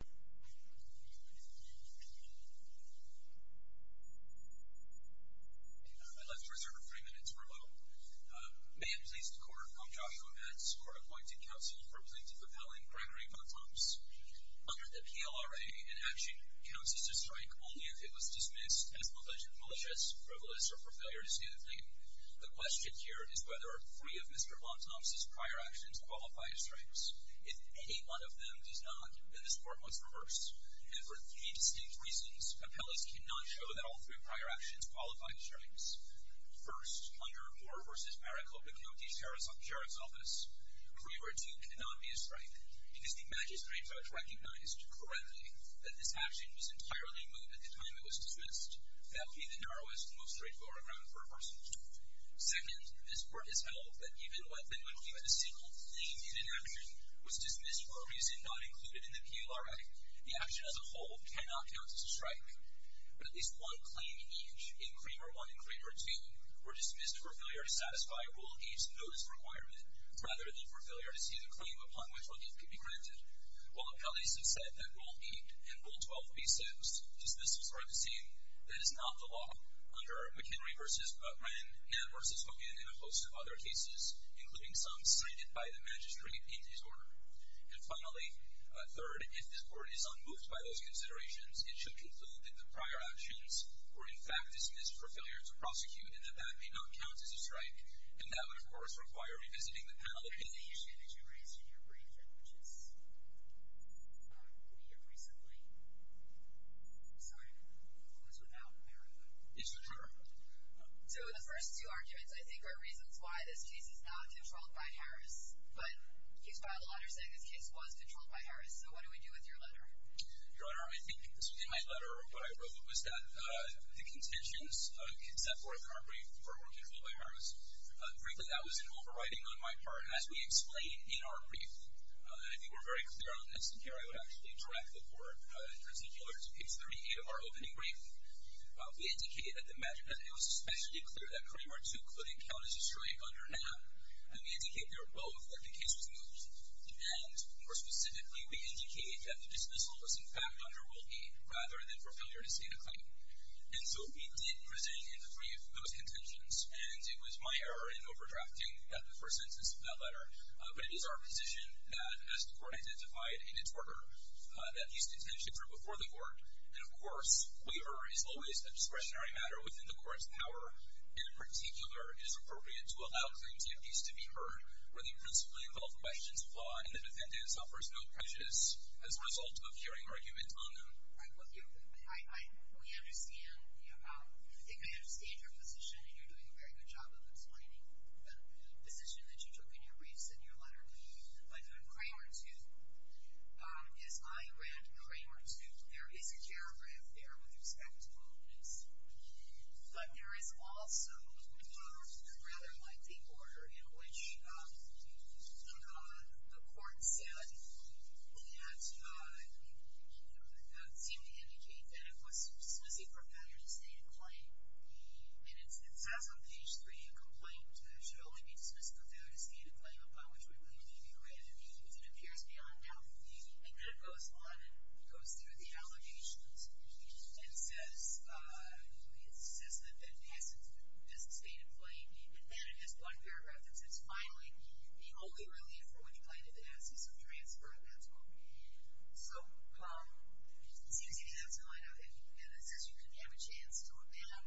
I'd like to reserve 3 minutes for a little man-placed court. I'm Joshua Metz, Court Appointed Counsel for Plaintiff Appellant Gregory Bontemps. Under the PLRA, an action counts as a strike only if it was dismissed as malicious, frivolous, or for failure to stand a claim. The question here is whether three of Mr. Bontemps' prior actions qualify as strikes. If any one of them does not, then this court must reverse. And for three distinct reasons, appellees cannot show that all three prior actions qualify as strikes. First, under Moore v. Maricopa County Sheriff's Office, 3-4-2 cannot be a strike because the magistrate judge recognized, correctly, that this action was entirely removed at the time it was dismissed. That would be the narrowest and most straightforward ground for a person. Second, this court has held that even when a single claim in an action was dismissed for a reason not included in the PLRA, the action as a whole cannot count as a strike. But at least one claim each, in Cramer 1 and Cramer 2, were dismissed for failure to satisfy Rule 8's notice requirement, rather than for failure to see the claim upon which one could be granted. While appellees have said that Rule 8 and Rule 12 be sexed, does this serve the same? That is not the law. Under McHenry v. Brennan, Nann v. Hogan, and a host of other cases, including some cited by the magistrate in his order. And finally, third, if this court is unmoved by those considerations, it should conclude that the prior actions were in fact dismissed for failure to prosecute, and that that may not count as a strike. And that would, of course, require revisiting the panel opinion. So the issue that you raised in your brief, which is we have recently started, was without merit. Yes, Your Honor. So the first two arguments, I think, are reasons why this case is not controlled by Harris. But he's filed a letter saying this case was controlled by Harris. So what do we do with your letter? Your Honor, I think this was in my letter. Frankly, that was an overriding on my part. As we explained in our brief, and I think we're very clear on this, and here I would actually direct the Court in particular to page 38 of our opening brief, we indicated that it was especially clear that Kareem Artook couldn't count as a strike under Nann, and we indicated we were both that the case was moved. And, more specifically, we indicated that the dismissal was, in fact, under Wilkie, rather than for failure to state a claim. And so we did present in the brief those intentions, and it was my error in overdrafting the first sentence of that letter. But it is our position that, as the Court identified in its order, that these intentions are before the Court, and, of course, waiver is always a discretionary matter within the Court's power, and, in particular, it is appropriate to allow claims against these to be heard when they are principally involved by agents of law and the defendant suffers no prejudice as a result of hearing argument on them. I think I understand your position, and you're doing a very good job of explaining the position that you took in your briefs and your letter. But on Kareem Artook, as I read Kareem Artook, there is a paragraph there with respect to Wilkie's, but there is also a rather lengthy order in which the Court said that seemed to indicate that it was dismissing for failure to state a claim. And it says on page 3, A complaint should only be dismissed for failure to state a claim upon which we believe it to be granted, if it appears beyond doubt. And then it goes on and goes through the allegations and says that the assent is stated plain. And then it has one paragraph that says, Finally, the only relief for which plaintiff asks is for transfer, and that's all. So, it seems to me that's going on. And it says you can have a chance to amend.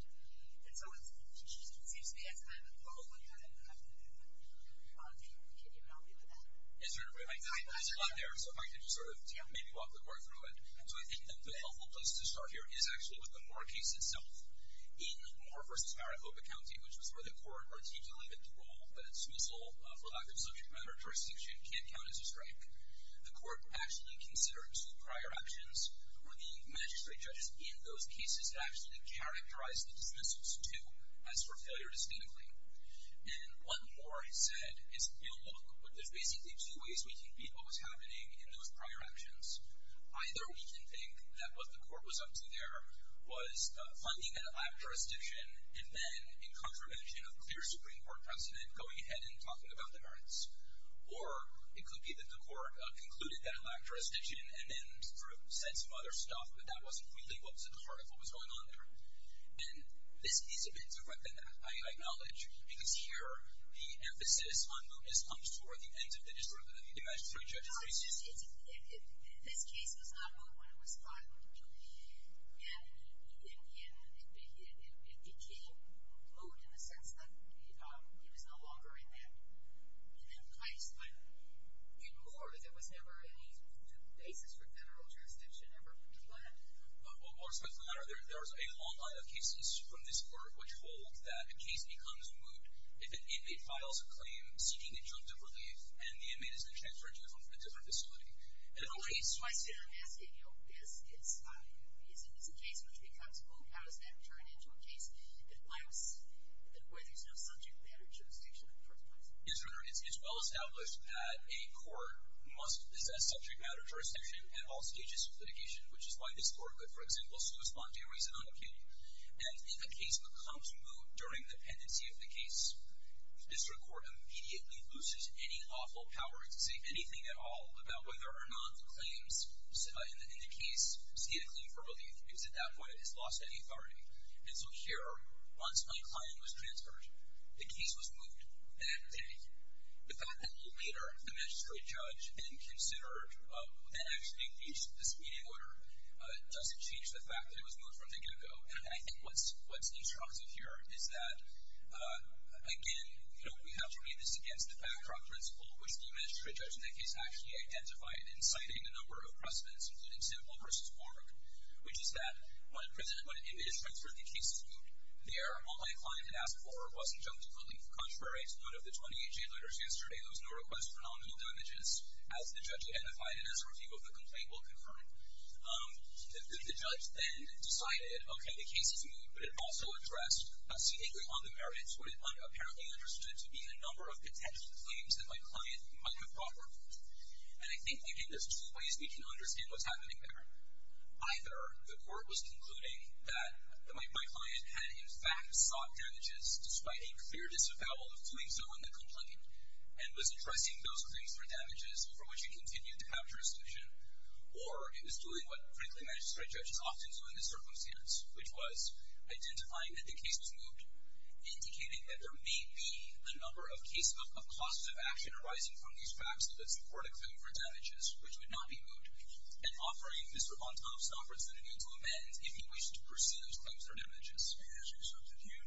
And so it seems to me that's kind of a long-winded argument. I don't know if you can help me with that. Yes, certainly. It's not there, so if I could just sort of maybe walk the Court through it. So I think that the helpful place to start here is actually with the Moore case itself. In Moore v. Maricopa County, which was where the Court articulated the rule that dismissal for lack of subject matter jurisdiction can't count as a strike, the Court actually considered two prior actions where the magistrate judges in those cases actually characterized the dismissals to as for failure to state a claim. And what Moore said is, You know, look, there's basically two ways we can beat what was happening in those prior actions. Either we can think that what the Court was up to there was finding that it lacked jurisdiction and then, in contravention of clear Supreme Court precedent, going ahead and talking about the merits. Or it could be that the Court concluded that it lacked jurisdiction and then sort of said some other stuff, but that wasn't really what was at the heart of what was going on there. And this case a bit directed that, I acknowledge, because here the emphasis on mootness comes toward the ends of the district. I mean, the magistrate judges... This case was not moot when it was filed. And it became moot in the sense that it was no longer in that place. But in Moore, there was never any basis for general jurisdiction ever to land. Well, more specifically, there was a long line of cases from this Court which hold that a case becomes moot if an inmate files a claim seeking injunctive relief and the inmate is then transferred to a different facility. And in a case... I see what you're asking. This is a case which becomes moot. How does that turn into a case where there's no subject matter jurisdiction in the first place? Yes, Your Honor. It's well established that a court must possess subject matter jurisdiction at all stages of litigation, which is why this Court would, for example, still respond to your reason on occasion. And if a case becomes moot during the pendency of the case, district court immediately loses any lawful power to say anything at all about whether or not the claims in the case see a claim for relief because at that point it has lost any authority. And so here, once my client was transferred, the case was moot that day. The fact that later the magistrate judge then considered that actually reached this meeting order doesn't change the fact that it was moot from the get-go. And I think what's interesting here is that, again, we have to read this against the backdrop principle, which the magistrate judge in that case actually identified in citing a number of precedents, including simple versus moot, which is that when the magistrate transferred the case to moot there, all my client had asked for was injunctive relief. Contrary to what of the 28 jail orders yesterday, there was no request for nominal damages as the judge identified and as a review of the complaint will confirm. The judge then decided, okay, the case is moot, but it also addressed seemingly on the merits what it apparently understood to be a number of potential claims that my client might have brought forward. And I think, again, there's two ways we can understand what's happening there. Either the court was concluding that my client had in fact sought damages despite a clear disavowal of doing so in the complaint and was addressing those claims for damages for which it continued to capture a solution, or it was doing what, frankly, magistrate judges often do in this circumstance, which was identifying that the case was moot, indicating that there may be a number of cases of causes of action arising from these facts that support a claim for damages, which would not be moot, and offering Mr. Bontop some opportunity to amend if he wished to pursue those claims for damages. And as you said, did you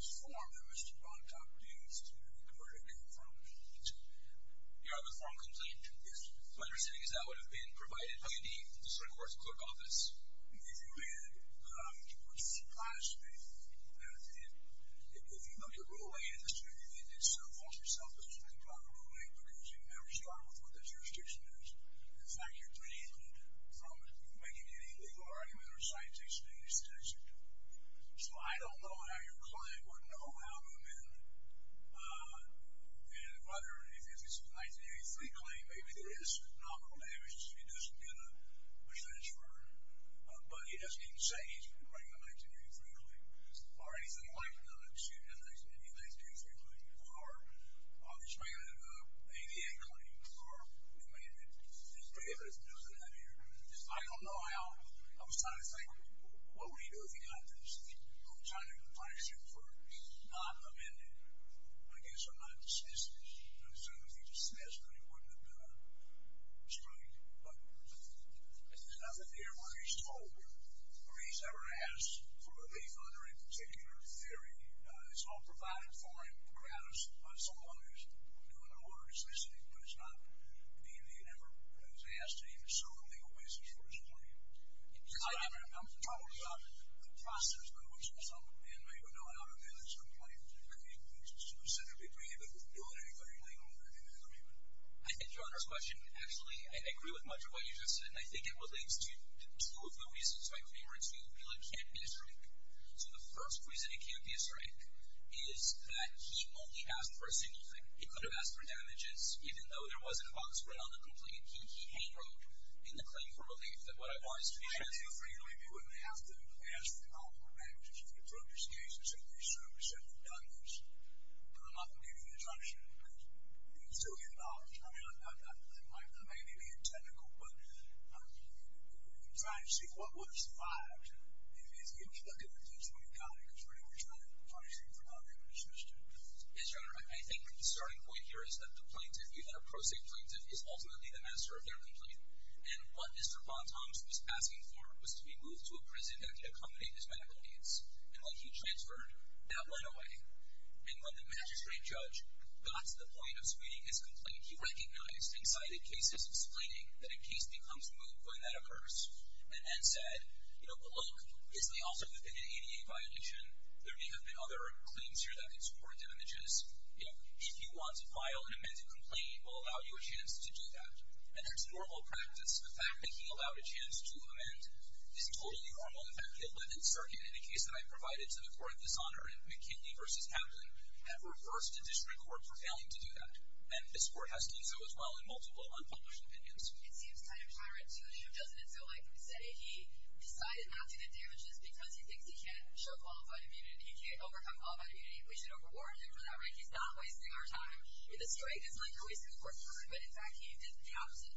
disform that Mr. Bontop used the verdict in the complaint? You are with form complaint? Yes. So what you're saying is that would have been provided by the district court's clerk office? If you had come to a class that if you look at rule 8, it's so false to yourself that you can talk about rule 8 because you never start with what the jurisdiction is. In fact, you're preempted from making any legal argument or citation in this case. So I don't know how your client would know how to amend and whether if it's a 1983 claim, maybe there is nominal damages. He doesn't get a defense for it, but he doesn't even say he's going to bring a 1983 claim or anything like that unless you have a 1983 claim or he's bringing an ADA claim or amendment. I don't know how. I was trying to think, what would he do if he got this? I'm trying to think of a punishment for not amending against or not dismissing. So if he dismissed, then he wouldn't have been restrained. But there's nothing there where he's told or he's ever asked for relief under any particular theory. It's all provided for him on the grounds of some lawyers who are doing an order of dismissing, but it's not the Indian ever has asked to even sue on a legal basis for his claim. I'm talking about the process by which some inmate would know how to manage a claim that's specifically created with military legal agreement. I think Your Honor's question, actually, I agree with much of what you just said, and I think it relates to two of the reasons my claimer to appeal it can't be a strike. So the first reason it can't be a strike is that he only asked for a single thing. He could have asked for damages, even though there wasn't a box written on the complaint. He hand-wrote in the claim for relief that what I've asked for is a strike. I think you really do have to ask for damages if you broke his case and said, I'm going to sue him because you've done this, but I'm not going to give you an exemption because you can still get a dollar. I mean, I may be being technical, but I'm trying to see what works, why, and you can look at the case when you've got it because we're never trying to punish him for not being able to dismiss him. Yes, Your Honor, I think the starting point here is that the plaintiff, the plaintiff is ultimately the master of their complaint, and what Mr. von Thoms was asking for was to be moved to a prison that could accommodate his medical needs, and when he transferred, that went away. And when the magistrate judge got to the point of suing his complaint, he recognized and cited cases explaining that a case becomes moot when that occurs and then said, you know, look, this may also have been an ADA violation. There may have been other claims here that could support damages. You know, if you want to file an amended complaint, we'll allow you a chance to do that. And that's normal practice. The fact that he allowed a chance to amend is totally normal. In fact, the 11th Circuit in a case that I provided to the court this honor in McKinley v. Pavley have reversed a district court for failing to do that, and this court has done so as well in multiple unpublished opinions. It seems kind of tyrant to him. Doesn't it feel like, say, he decided not to get damages because he thinks he can't show qualified immunity, and he can't overcome all that immunity, we should overwarrant him for that right. He's not wasting our time. In this case, it's not like you're wasting the court's time, but in fact he did the opposite.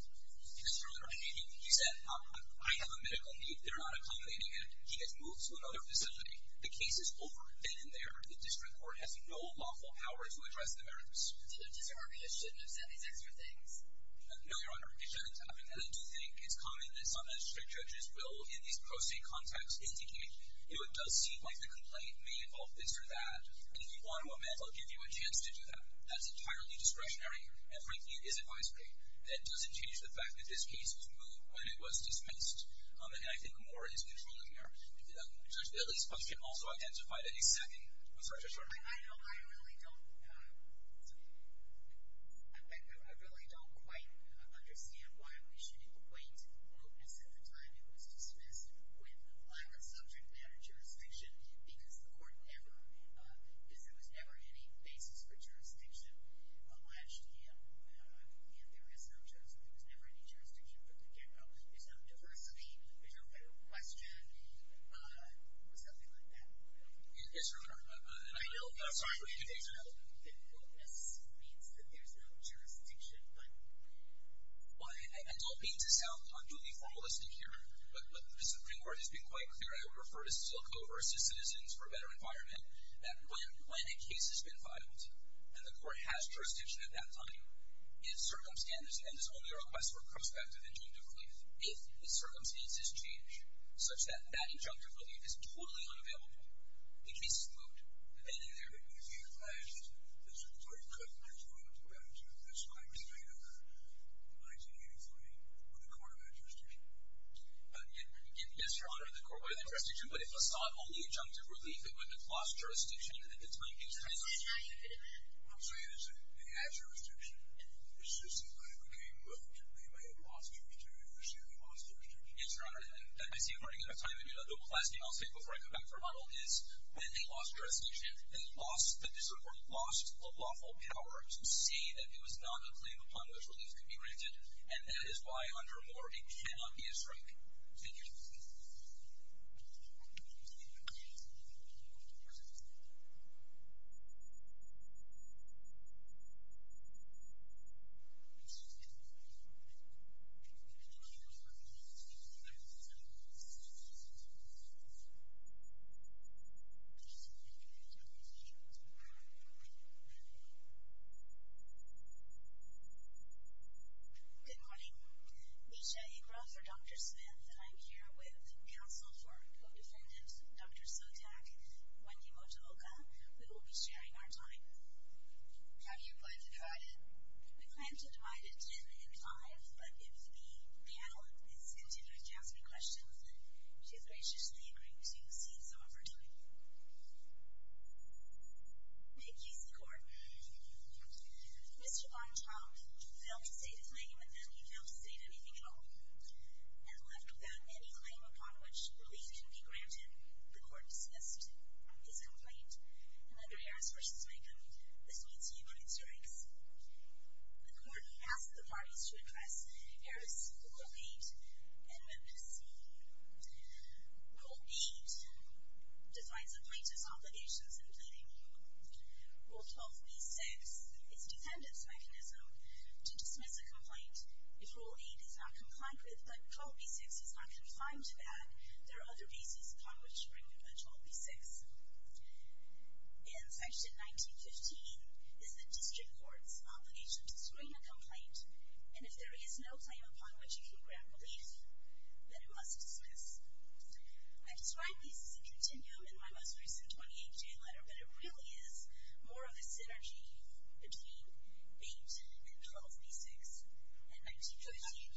Mr. O'Rourke, he said, I have a medical need. They're not accommodating it. He gets moved to another facility. The case is over then and there. The district court has no lawful power to address the merits. So the district court just shouldn't have said these extra things. No, Your Honor, it shouldn't have. in these pro se contexts, indicate, you know, it does seem like the complaint may involve this or that, and if you want to amend, I'll give you a chance to do that. That's entirely discretionary, and frankly, it isn't wise for me. That doesn't change the fact that this case was moved when it was dismissed, and I think more is controlled in there. Judge, at least one can also identify that a second. I'm sorry, Judge O'Rourke. I know I really don't, I really don't quite understand why we should equate openness at the time it was dismissed with higher subject matter jurisdiction, because the court never, because there was never any basis for jurisdiction last year, and there is no jurisdiction, there was never any jurisdiction from the get-go. There's no diversity, there's no federal question, or something like that. Yes, Your Honor. I know openness means that there's no jurisdiction, but. Well, I don't mean to sound unduly formalistic here, but the Supreme Court has been quite clear, and I would refer to SILCO versus Citizens for a Better Environment, that when a case has been filed, and the court has jurisdiction at that time, if circumstances, and this is only a request for prospective injunctive relief, if the circumstances change, such that that injunctive relief is totally unavailable, the case is moved. But then in there. But if you add, the Supreme Court couldn't control it, that's my perspective, in 1983, when the court had jurisdiction. Yes, Your Honor, the court had jurisdiction, but if Assad only injunctive relief, it would have lost jurisdiction at the time. What I'm saying is, it had jurisdiction, it's just that when it became moved, they may have lost jurisdiction. Yes, Your Honor, I see I'm running out of time, and the last thing I'll say before I go back to remodel is, when they lost jurisdiction, they lost, or lost the lawful power to say that there was not a claim upon which relief could be granted, and that is why, under Moore, it cannot be a strike. Thank you. Good morning. Nisha Iqra for Dr. Smith, and I'm here with counsel for co-defendant Dr. Sotak, Wendy Motuloka. We will be sharing our time. How do you plan to divide it? We plan to divide it 10 and 5, but if the panel is content with answering questions, she graciously agrees to save some of her time. May it please the Court. Mr. Von Traub failed to state a claim, and then he failed to state anything at all, and left without any claim upon which relief can be granted. The Court dismissed his complaint, and under Harris v. Maycomb, this means he agreed to strikes. The Court asked the parties to address Harris, Goldbeet, and Memphis. Rule 8 defines a plaintiff's obligations in pleading. Rule 12b-6 is a defendant's mechanism to dismiss a complaint. If Rule 8 is not compliant with, but Rule 12b-6 is not confined to that, there are other bases upon which to bring a 12b-6. And Section 1915 is the district court's obligation to screen a complaint, and if there is no claim upon which you can grant relief, then it must dismiss. I describe these as a continuum in my most recent 28-J letter, but it really is more of a synergy between 8 and 12b-6.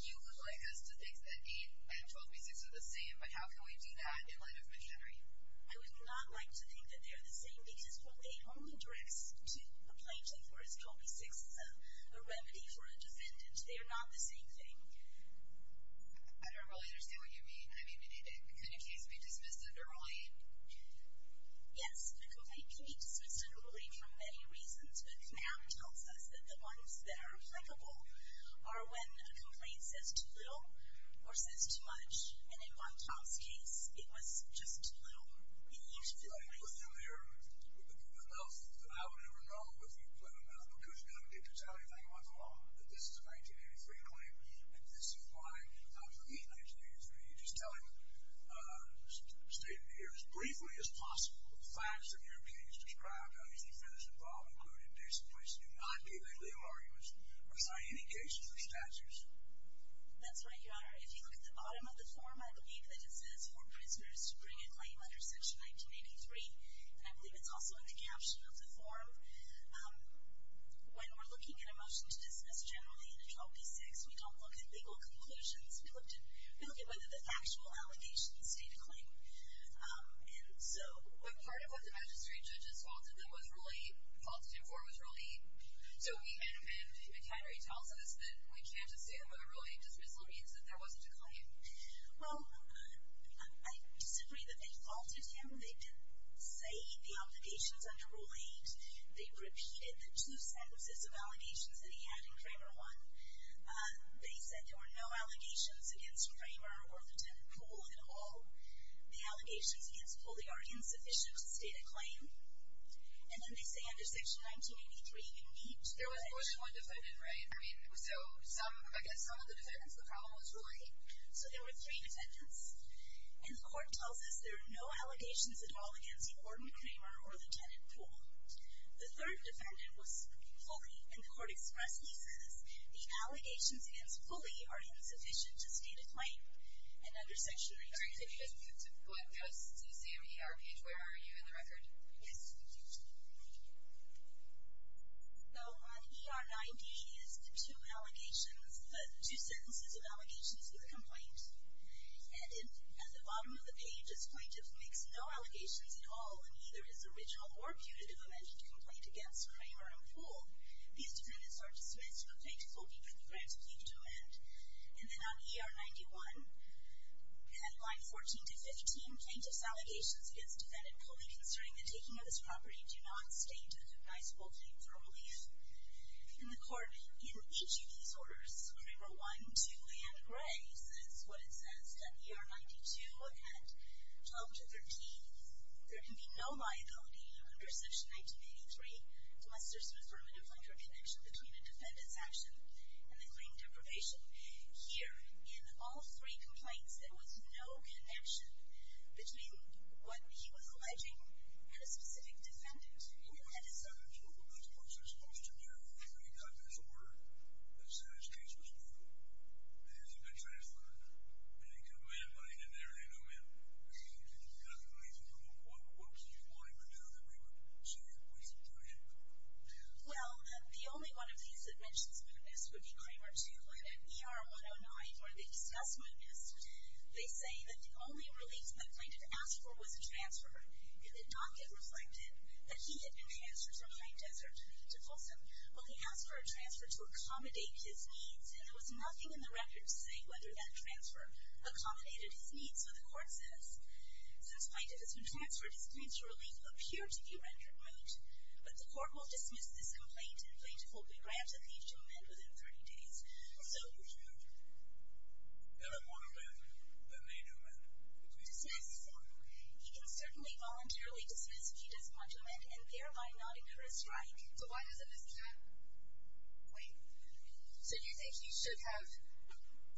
You would like us to think that 8 and 12b-6 are the same, but how can we do that in light of machinery? I would not like to think that they are the same, because Rule 8 only directs to the plaintiff, whereas 12b-6 is a remedy for a defendant. They are not the same thing. I don't really understand what you mean. I mean, could a case be dismissed under Rule 8? Yes, a complaint can be dismissed under Rule 8 for many reasons, but Knapp tells us that the ones that are applicable are when a complaint says too little or says too much, and in one Tom's case, it was just too little. It used to be the case. The most that I would ever know, because you never get to tell anything once in a while, that this is a 1983 claim, and this is why, for me, 1983, you just tell him, state it here as briefly as possible, the facts that your opinion is described, how each defendant is involved, included in this, and please do not give any legal arguments or cite any cases or statutes. That's right, Your Honor. If you look at the bottom of the form, I believe that it says for prisoners to bring a claim under Section 1983, and I believe it's also in the caption of the form. When we're looking at a motion to dismiss generally in a 12b6, we don't look at legal conclusions. We look at whether the factual allegations state a claim. But part of what the magistrate judges faulted them was Rule 8. Faulted him for was Rule 8. So we can't amend, McHenry tells us, that we can't assume that a Rule 8 dismissal means that there wasn't a claim. Well, I disagree that they faulted him. They didn't say the obligations under Rule 8. They repeated the two sentences of allegations that he had in Kramer 1. They said there were no allegations against Kramer or Lieutenant Poole at all. The allegations against Poole are insufficient to state a claim. And then they say under Section 1983, you need to say... There was only one defendant, right? I mean, so I guess some of the defendants, the problem was Rule 8? So there were three defendants, and the court tells us there are no allegations at all against Gordon Kramer or Lieutenant Poole. The third defendant was Foley, and the court expressly says the allegations against Foley are insufficient to state a claim. And under Section 1983... Could you just go ahead and go to the same ER page? Where are you in the record? Yes. So on ER 9-D is the two allegations, the two sentences of allegations for the complaint. And at the bottom of the page, this plaintiff makes no allegations at all in either his original or putative amended complaint against Kramer and Poole. These defendants are to submit to the plaintiff hoping for the grant to be put to an end. And then on ER 91, headline 14-15, plaintiff's allegations against defendant Foley concerning the taking of this property do not state a cognizable claim for relief. And the court, in each of these orders, Kramer 1, 2, and Gray, says what it says, that ER 92 and 12-13, there can be no liability under Section 1983 unless there's an affirmative link or connection between a defendant's action and the claim deprivation. Here, in all three complaints, there was no connection between what he was alleging and a specific defendant. And he had his own view. Well, that's what you're supposed to do when you've got this order that says this case was moved and hasn't been transferred, and they've got a man lying in there, and they know men, and you've got the relief. What do you want him to do that we would say we should do it? Well, the only one of these that mentions mootness would be Kramer 2. In ER 109, where they discuss mootness, they say that the only relief the plaintiff asked for was a transfer. It did not get reflected that he had been transferred from Pine Desert to Folsom while he asked for a transfer to accommodate his needs, and there was nothing in the record to say whether that transfer accommodated his needs, so the court says since plaintiff has been transferred, his claims to relief appear to be rendered moot, but the court will dismiss this complaint, and plaintiff will be granted relief to amend within 30 days, so... Better more to live than they do men. Dismiss? He can certainly voluntarily dismiss if he doesn't want to amend, and thereby not incur a strike. So why doesn't this count? Wait. So you think he should have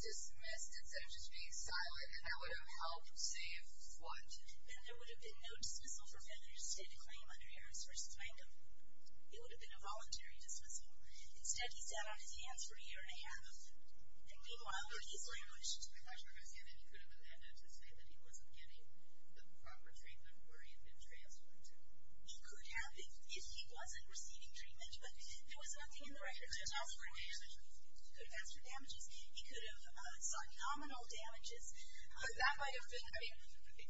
dismissed instead of just being silent, and that would have helped save what? Then there would have been no dismissal for feathers to end a claim under Harris v. Langham. It would have been a voluntary dismissal. Instead, he sat on his hands for a year and a half, and meanwhile, he's languished. I understand that he could have amended to say that he wasn't getting the proper treatment where he had been transferred to. He could have if he wasn't receiving treatment, but there was nothing in the record to tell for damages. He could have asked for damages. He could have sought nominal damages. But that might have been...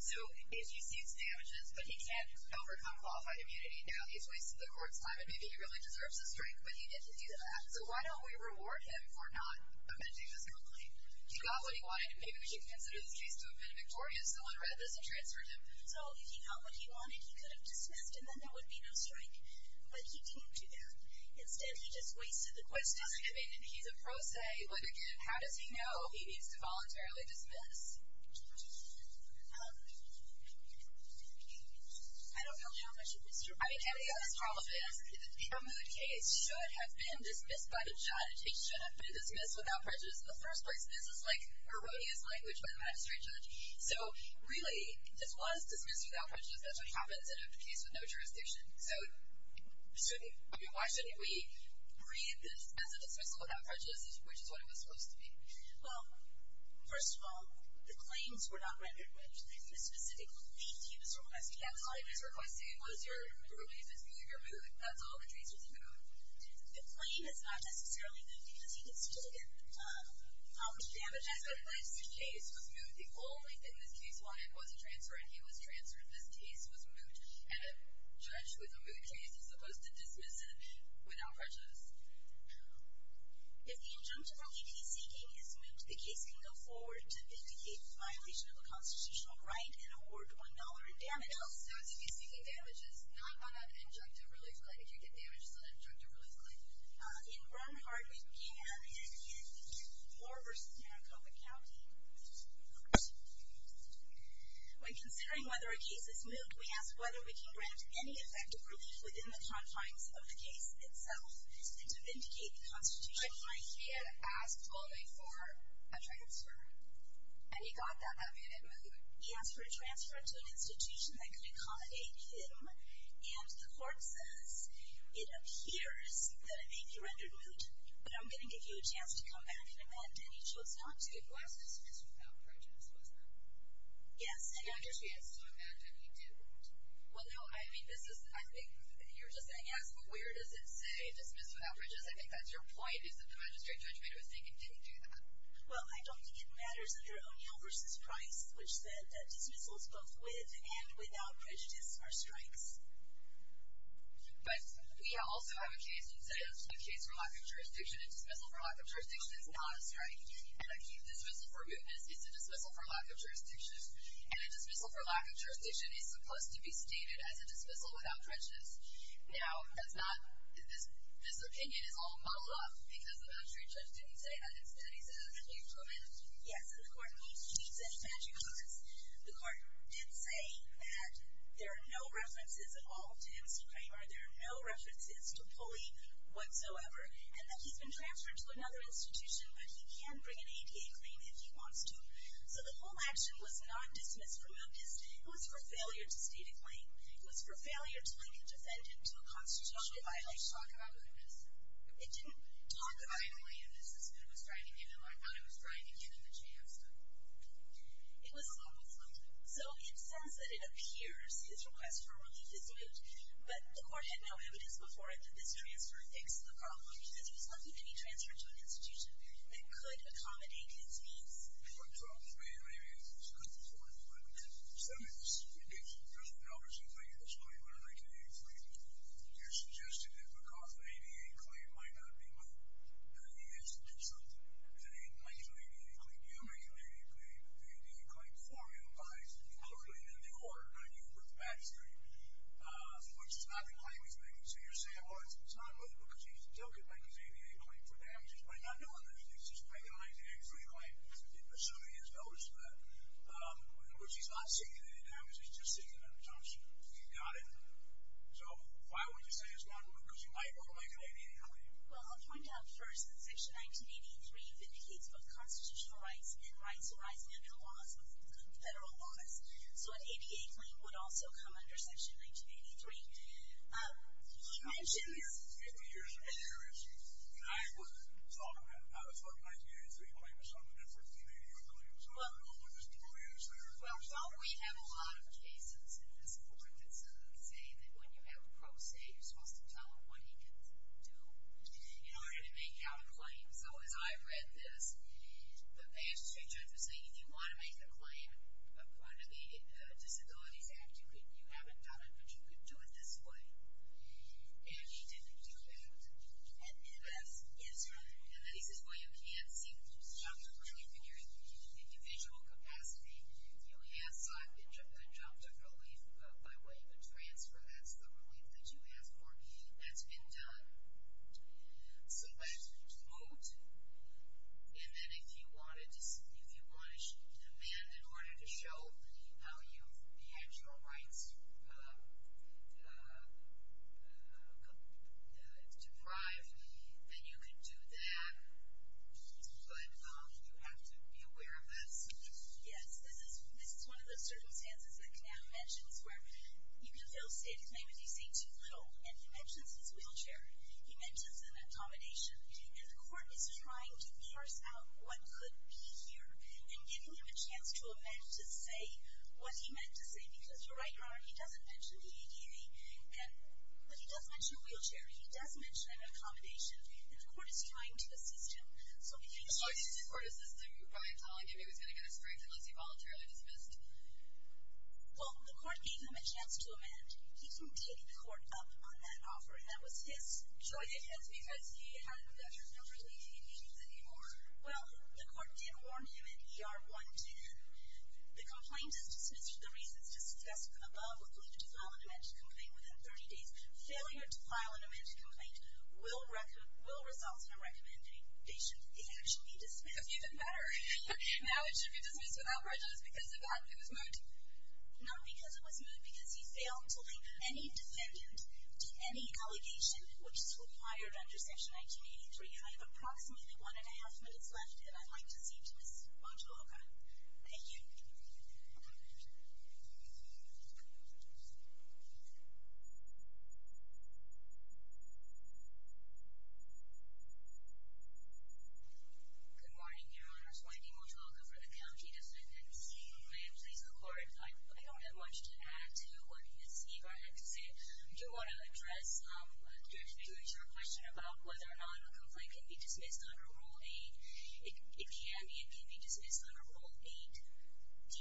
So, as you see, it's damages, but he can't overcome qualified immunity. Now, he's wasted the court's time, and maybe he really deserves a strike, but he didn't do that. So why don't we reward him for not amending this complaint? He got what he wanted, and maybe we should consider this case to have been victorious. Someone read this and transferred him. So if he got what he wanted, he could have dismissed, and then there would be no strike. But he came to that. Instead, he just wasted the court's time. Which doesn't mean that he's a pro se. But again, how does he know he needs to voluntarily dismiss? I don't know how much of this... I think any of us probably know that a good case should have been dismissed by the judge. It should have been dismissed without prejudice in the first place. This is like erroneous language by the magistrate judge. So, really, this was dismissed without prejudice. That's what happens in a case with no jurisdiction. So, why shouldn't we read this as a dismissal without prejudice, which is what it was supposed to be? Well, first of all, the claims were not rendered. The specific thing he was requesting was your mood. That's all the case was about. The claim is not necessarily mood because he can still get how much damage he has done in life. His case was mood. The only thing this case wanted was a transfer, and he was transferred. This case was mood, and a judge with a mood case is supposed to dismiss it without prejudice. If the injunctive relief he's seeking is mood, the case can go forward to vindicate violation of a constitutional right and award $1 in damage. So, if he's seeking damages, not on an injunctive relief claim, if you get damages on an injunctive relief claim, in Bernhardt, we can, and in Moore v. Maricopa County, it's mood. When considering whether a case is mood, we ask whether we can grant any effective relief within the confines of the case itself, and to vindicate the constitutional right. But he had asked only for a transfer, and he got that. That made it mood. He asked for a transfer to an institution that could accommodate him, and the court says, it appears that it may be rendered mood, but I'm going to give you a chance to come back and amend, and he chose not to. It was dismissed without prejudice, wasn't it? Yes. Well, no, I mean, I think you're just saying, yes, but where does it say dismiss without prejudice? I think that's your point, is that the magistrate judge made a mistake and didn't do that. Well, I don't think it matters under O'Neill v. Price, which said that dismissals both with and without prejudice are strikes. But we also have a case that says a case for lack of a strike, and a dismissal for mootness is a dismissal for lack of jurisdiction. And a dismissal for lack of jurisdiction is supposed to be stated as a dismissal without prejudice. Now, that's not, this opinion is all muddled up because the magistrate judge didn't say that. Instead, he said, you've come in. Yes, and the court keeps its magic words. The court did say that there are no references at all to M.C. Kramer. There are no references to Pulley whatsoever, and that he's been transferred to another institution, but he can bring an ADA claim if he wants to. So the whole action was non-dismissed for mootness. It was for failure to state a claim. It was for failure to link a defendant to a mootness. It didn't talk about mootness. The smooth was driving him, and I thought it was driving him in the chance, but it was always like that. So, in the sense that it appears his request for relief is moot, but the court had no evidence before it that this transfer fixed the problem, because he was lucky to be transferred to an institution that could accommodate his needs. What troubles me, and maybe it's a good point, but some of this indicates that there's an obvious thing at this point when I make an ADA claim. You're suggesting that because an ADA claim might not be moot, that he has to do something. And he might make an ADA claim. You make an ADA claim, but the ADA claim formula lies completely in the court, not you or the magistrate, which is not the claim he's making. So you're saying, well, it's not moot because he still could make his ADA claim for damages by not doing this. He's just making an ADA claim assuming he has notice of that, which he's not seeking any damages, he's just seeking an exemption. You got it. So, why would you say it's not moot? Because he might go make an ADA claim. Well, I'll point out first that Section 1983 vindicates both constitutional rights and rights arising under the laws, federal laws. So, an ADA claim would also come under Section 1983. You mentioned this. Fifty years in the area, and I wasn't talking about it. I was talking about 1983 claiming something different than an ADA claim. So, I don't know what the story is there. Well, don't we have a lot of cases in this court that say that when you have a pro se, you're supposed to tell him what he can do in order to make out a claim. So, as I read this, the past two judges were saying, if you want to make a claim in front of the Disabilities Act, you haven't done it, but you could do it this way. And he didn't do that. And then he says, well, you can't seek relief in your individual capacity. Yes, I've been dropped a relief by way of a transfer. That's the relief that you asked for. That's been done. So, that's moot. And then, if you want to demand in order to show how you have your rights deprived, then you can do that. But, you have to be aware of this. Yes, this is one of those circumstances that Knapp mentions where you can fail a stated claim if you say too little. And he mentions his wheelchair. He mentions an accommodation. And the court is trying to parse out what could be here and giving him a chance to amend to say what he meant to say. Because, you're right, Your Honor, he doesn't mention the ADA. But he does mention a wheelchair. He does mention an accommodation. And the court is trying to assist him. So, if he... So, he's trying to court-assist him by telling him he was going to get a strength unless he voluntarily dismissed? Well, the court gave him a chance to amend. He didn't take the court up on that offer. And that was his joint offense because he had no relief in his needs anymore. Well, the court did warn him in ER 110. The complaint is dismissed for the reasons just discussed above with the need to file an amended complaint within 30 days. Failure to file an amended complaint will result in a recommendation that it should be dismissed. Even better. Now it should be dismissed without prejudice because of that. It was moot. Not because it was moot. Because he failed to link any defendant to any allegation which is required under section 1983. I have approximately one and a half minutes left and I'd like to see to Ms. Motuloka. Thank you. Good morning, Your Honors. Wendy Motuloka for the County Defendants. Ma'am, please go forward. I don't have much to add to what Ms. Ibarra had to say. I do want to address a very short question about whether or not a complaint can be dismissed under Rule 8. It can. It can be dismissed under Rule 8D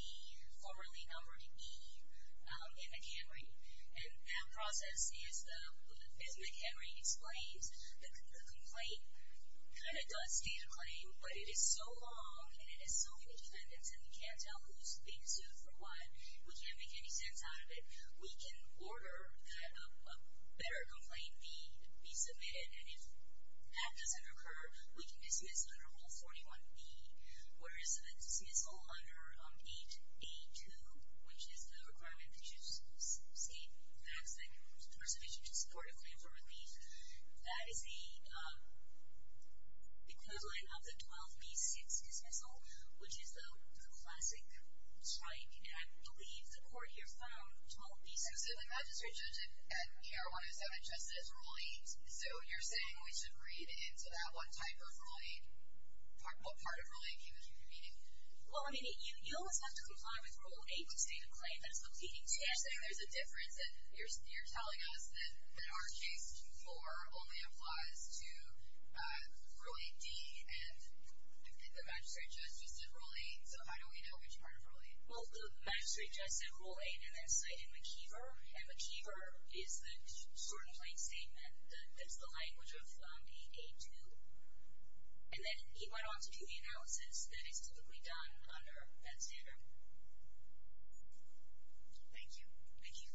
formerly numbered E in McHenry. That process is McHenry explains the complaint kind of does state a claim but it is so long and it has so many defendants and we can't tell who's being sued for what. We can't make any sense out of it. We can order that a better complaint be submitted and if that doesn't occur, we can dismiss under Rule 41B where it is a dismissal under 8A2 which is the requirement that you state facts that are sufficient to support a claim for relief. That is the equivalent of the 12B6 dismissal which is the classic strike and I believe the court here found 12B6. So the magistrate judge at ER 107 just said it's Rule 8 so you're saying we should read into that what type of Rule 8 what part of Rule 8 can we keep repeating? Well I mean you always have to comply with Rule 8 to state a claim that's the pleading. So you're saying there's a difference and you're telling us that our case 4 only applies to Rule 8D and the magistrate judge just said Rule 8 so how do we know which part of Rule 8? Well the magistrate judge said Rule 8 and then cited McKeever and McKeever is the plain statement that's the language of 8A2 and then he went on to do the analysis that is typically done under that standard. Thank you. Thank you.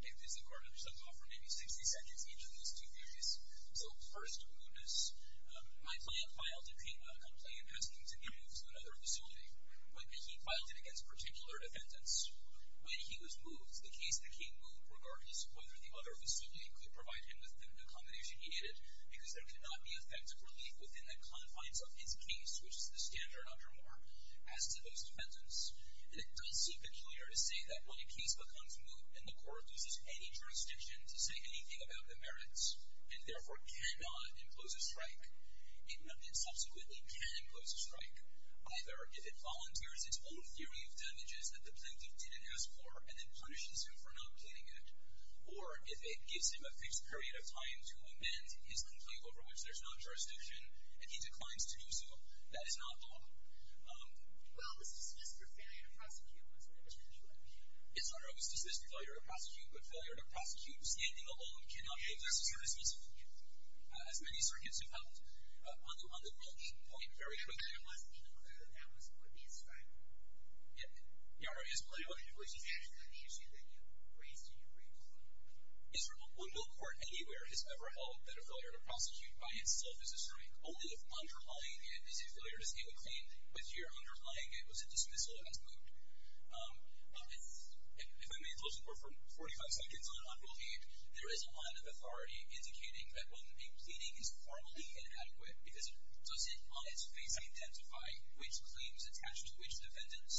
This is a court under some law for maybe 60 seconds each of these two areas. So first, mootness. My client filed a complaint asking to be moved to another facility but he filed it against particular defendants. When he was moved the case became moot regardless of whether the other facility could provide him with the accommodation he needed because there could not be effective relief within the confines of his case which is the standard under Moore as to those defendants and it does seem peculiar to say that when a case becomes moot and the court loses any jurisdiction to say anything about the merits and therefore cannot impose a strike it subsequently can impose a strike either if it volunteers its own theory of damages that the plaintiff didn't ask for and then punishes him for not planning it or if it gives him a fixed period of time to amend his complaint over which there's no jurisdiction and he declines to do so. That is not law. Well, was dismissed or failure to prosecute? It's not always dismissed or failure to prosecute but failure to prosecute standing alone cannot be dismissed or dismissed as many circuits have held. On the moot point very quickly it must be clear that that was what he ascribed to. He already has plenty of other information. On the issue that you raised in your brief Israel? Well, no court anywhere has ever held that a failure to prosecute by itself is a strike. Only if underlying it is a failure to stand a claim with your underlying it was a dismissal as moot. If I may close the court for 45 seconds on on rule 8, there is a line of authority indicating that when a pleading is formally inadequate because it doesn't on its face identify which claims attach to which defendants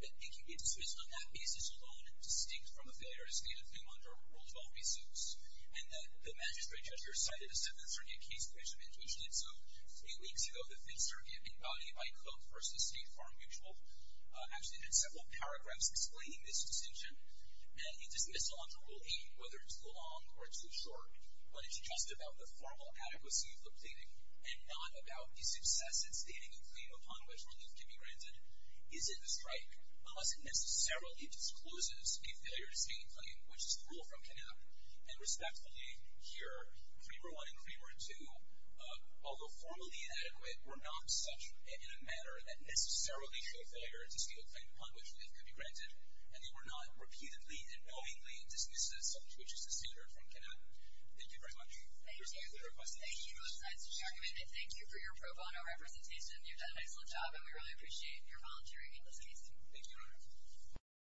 that it can be dismissed on that basis alone distinct from a failure to stand a claim under a rule 12 resource and that the magistrate judge here cited a 7th Circuit case in which a man tweeted so three weeks ago the 5th Circuit embodied by Koch versus State Farm Mutual actually had several paragraphs explaining this distinction and he dismissed it on to rule 8 whether it's too long or too short but it's just about the formal adequacy of the pleading and not about the success in stating a claim upon which relief can be granted. Is it a strike? Unless it necessarily discloses a failure to stand a claim which is cruel from KNAP and respectfully here Kramer 1 and Kramer 2 although formally inadequate were not dismissed as such in a manner that necessarily show failure to stand a claim upon which relief could be granted and they were not repeatedly and knowingly dismissed as such which is the standard from KNAP Thank you very much Thank you both sides for your argument and thank you for your pro bono representation you've done an excellent job and we really appreciate your volunteering in this case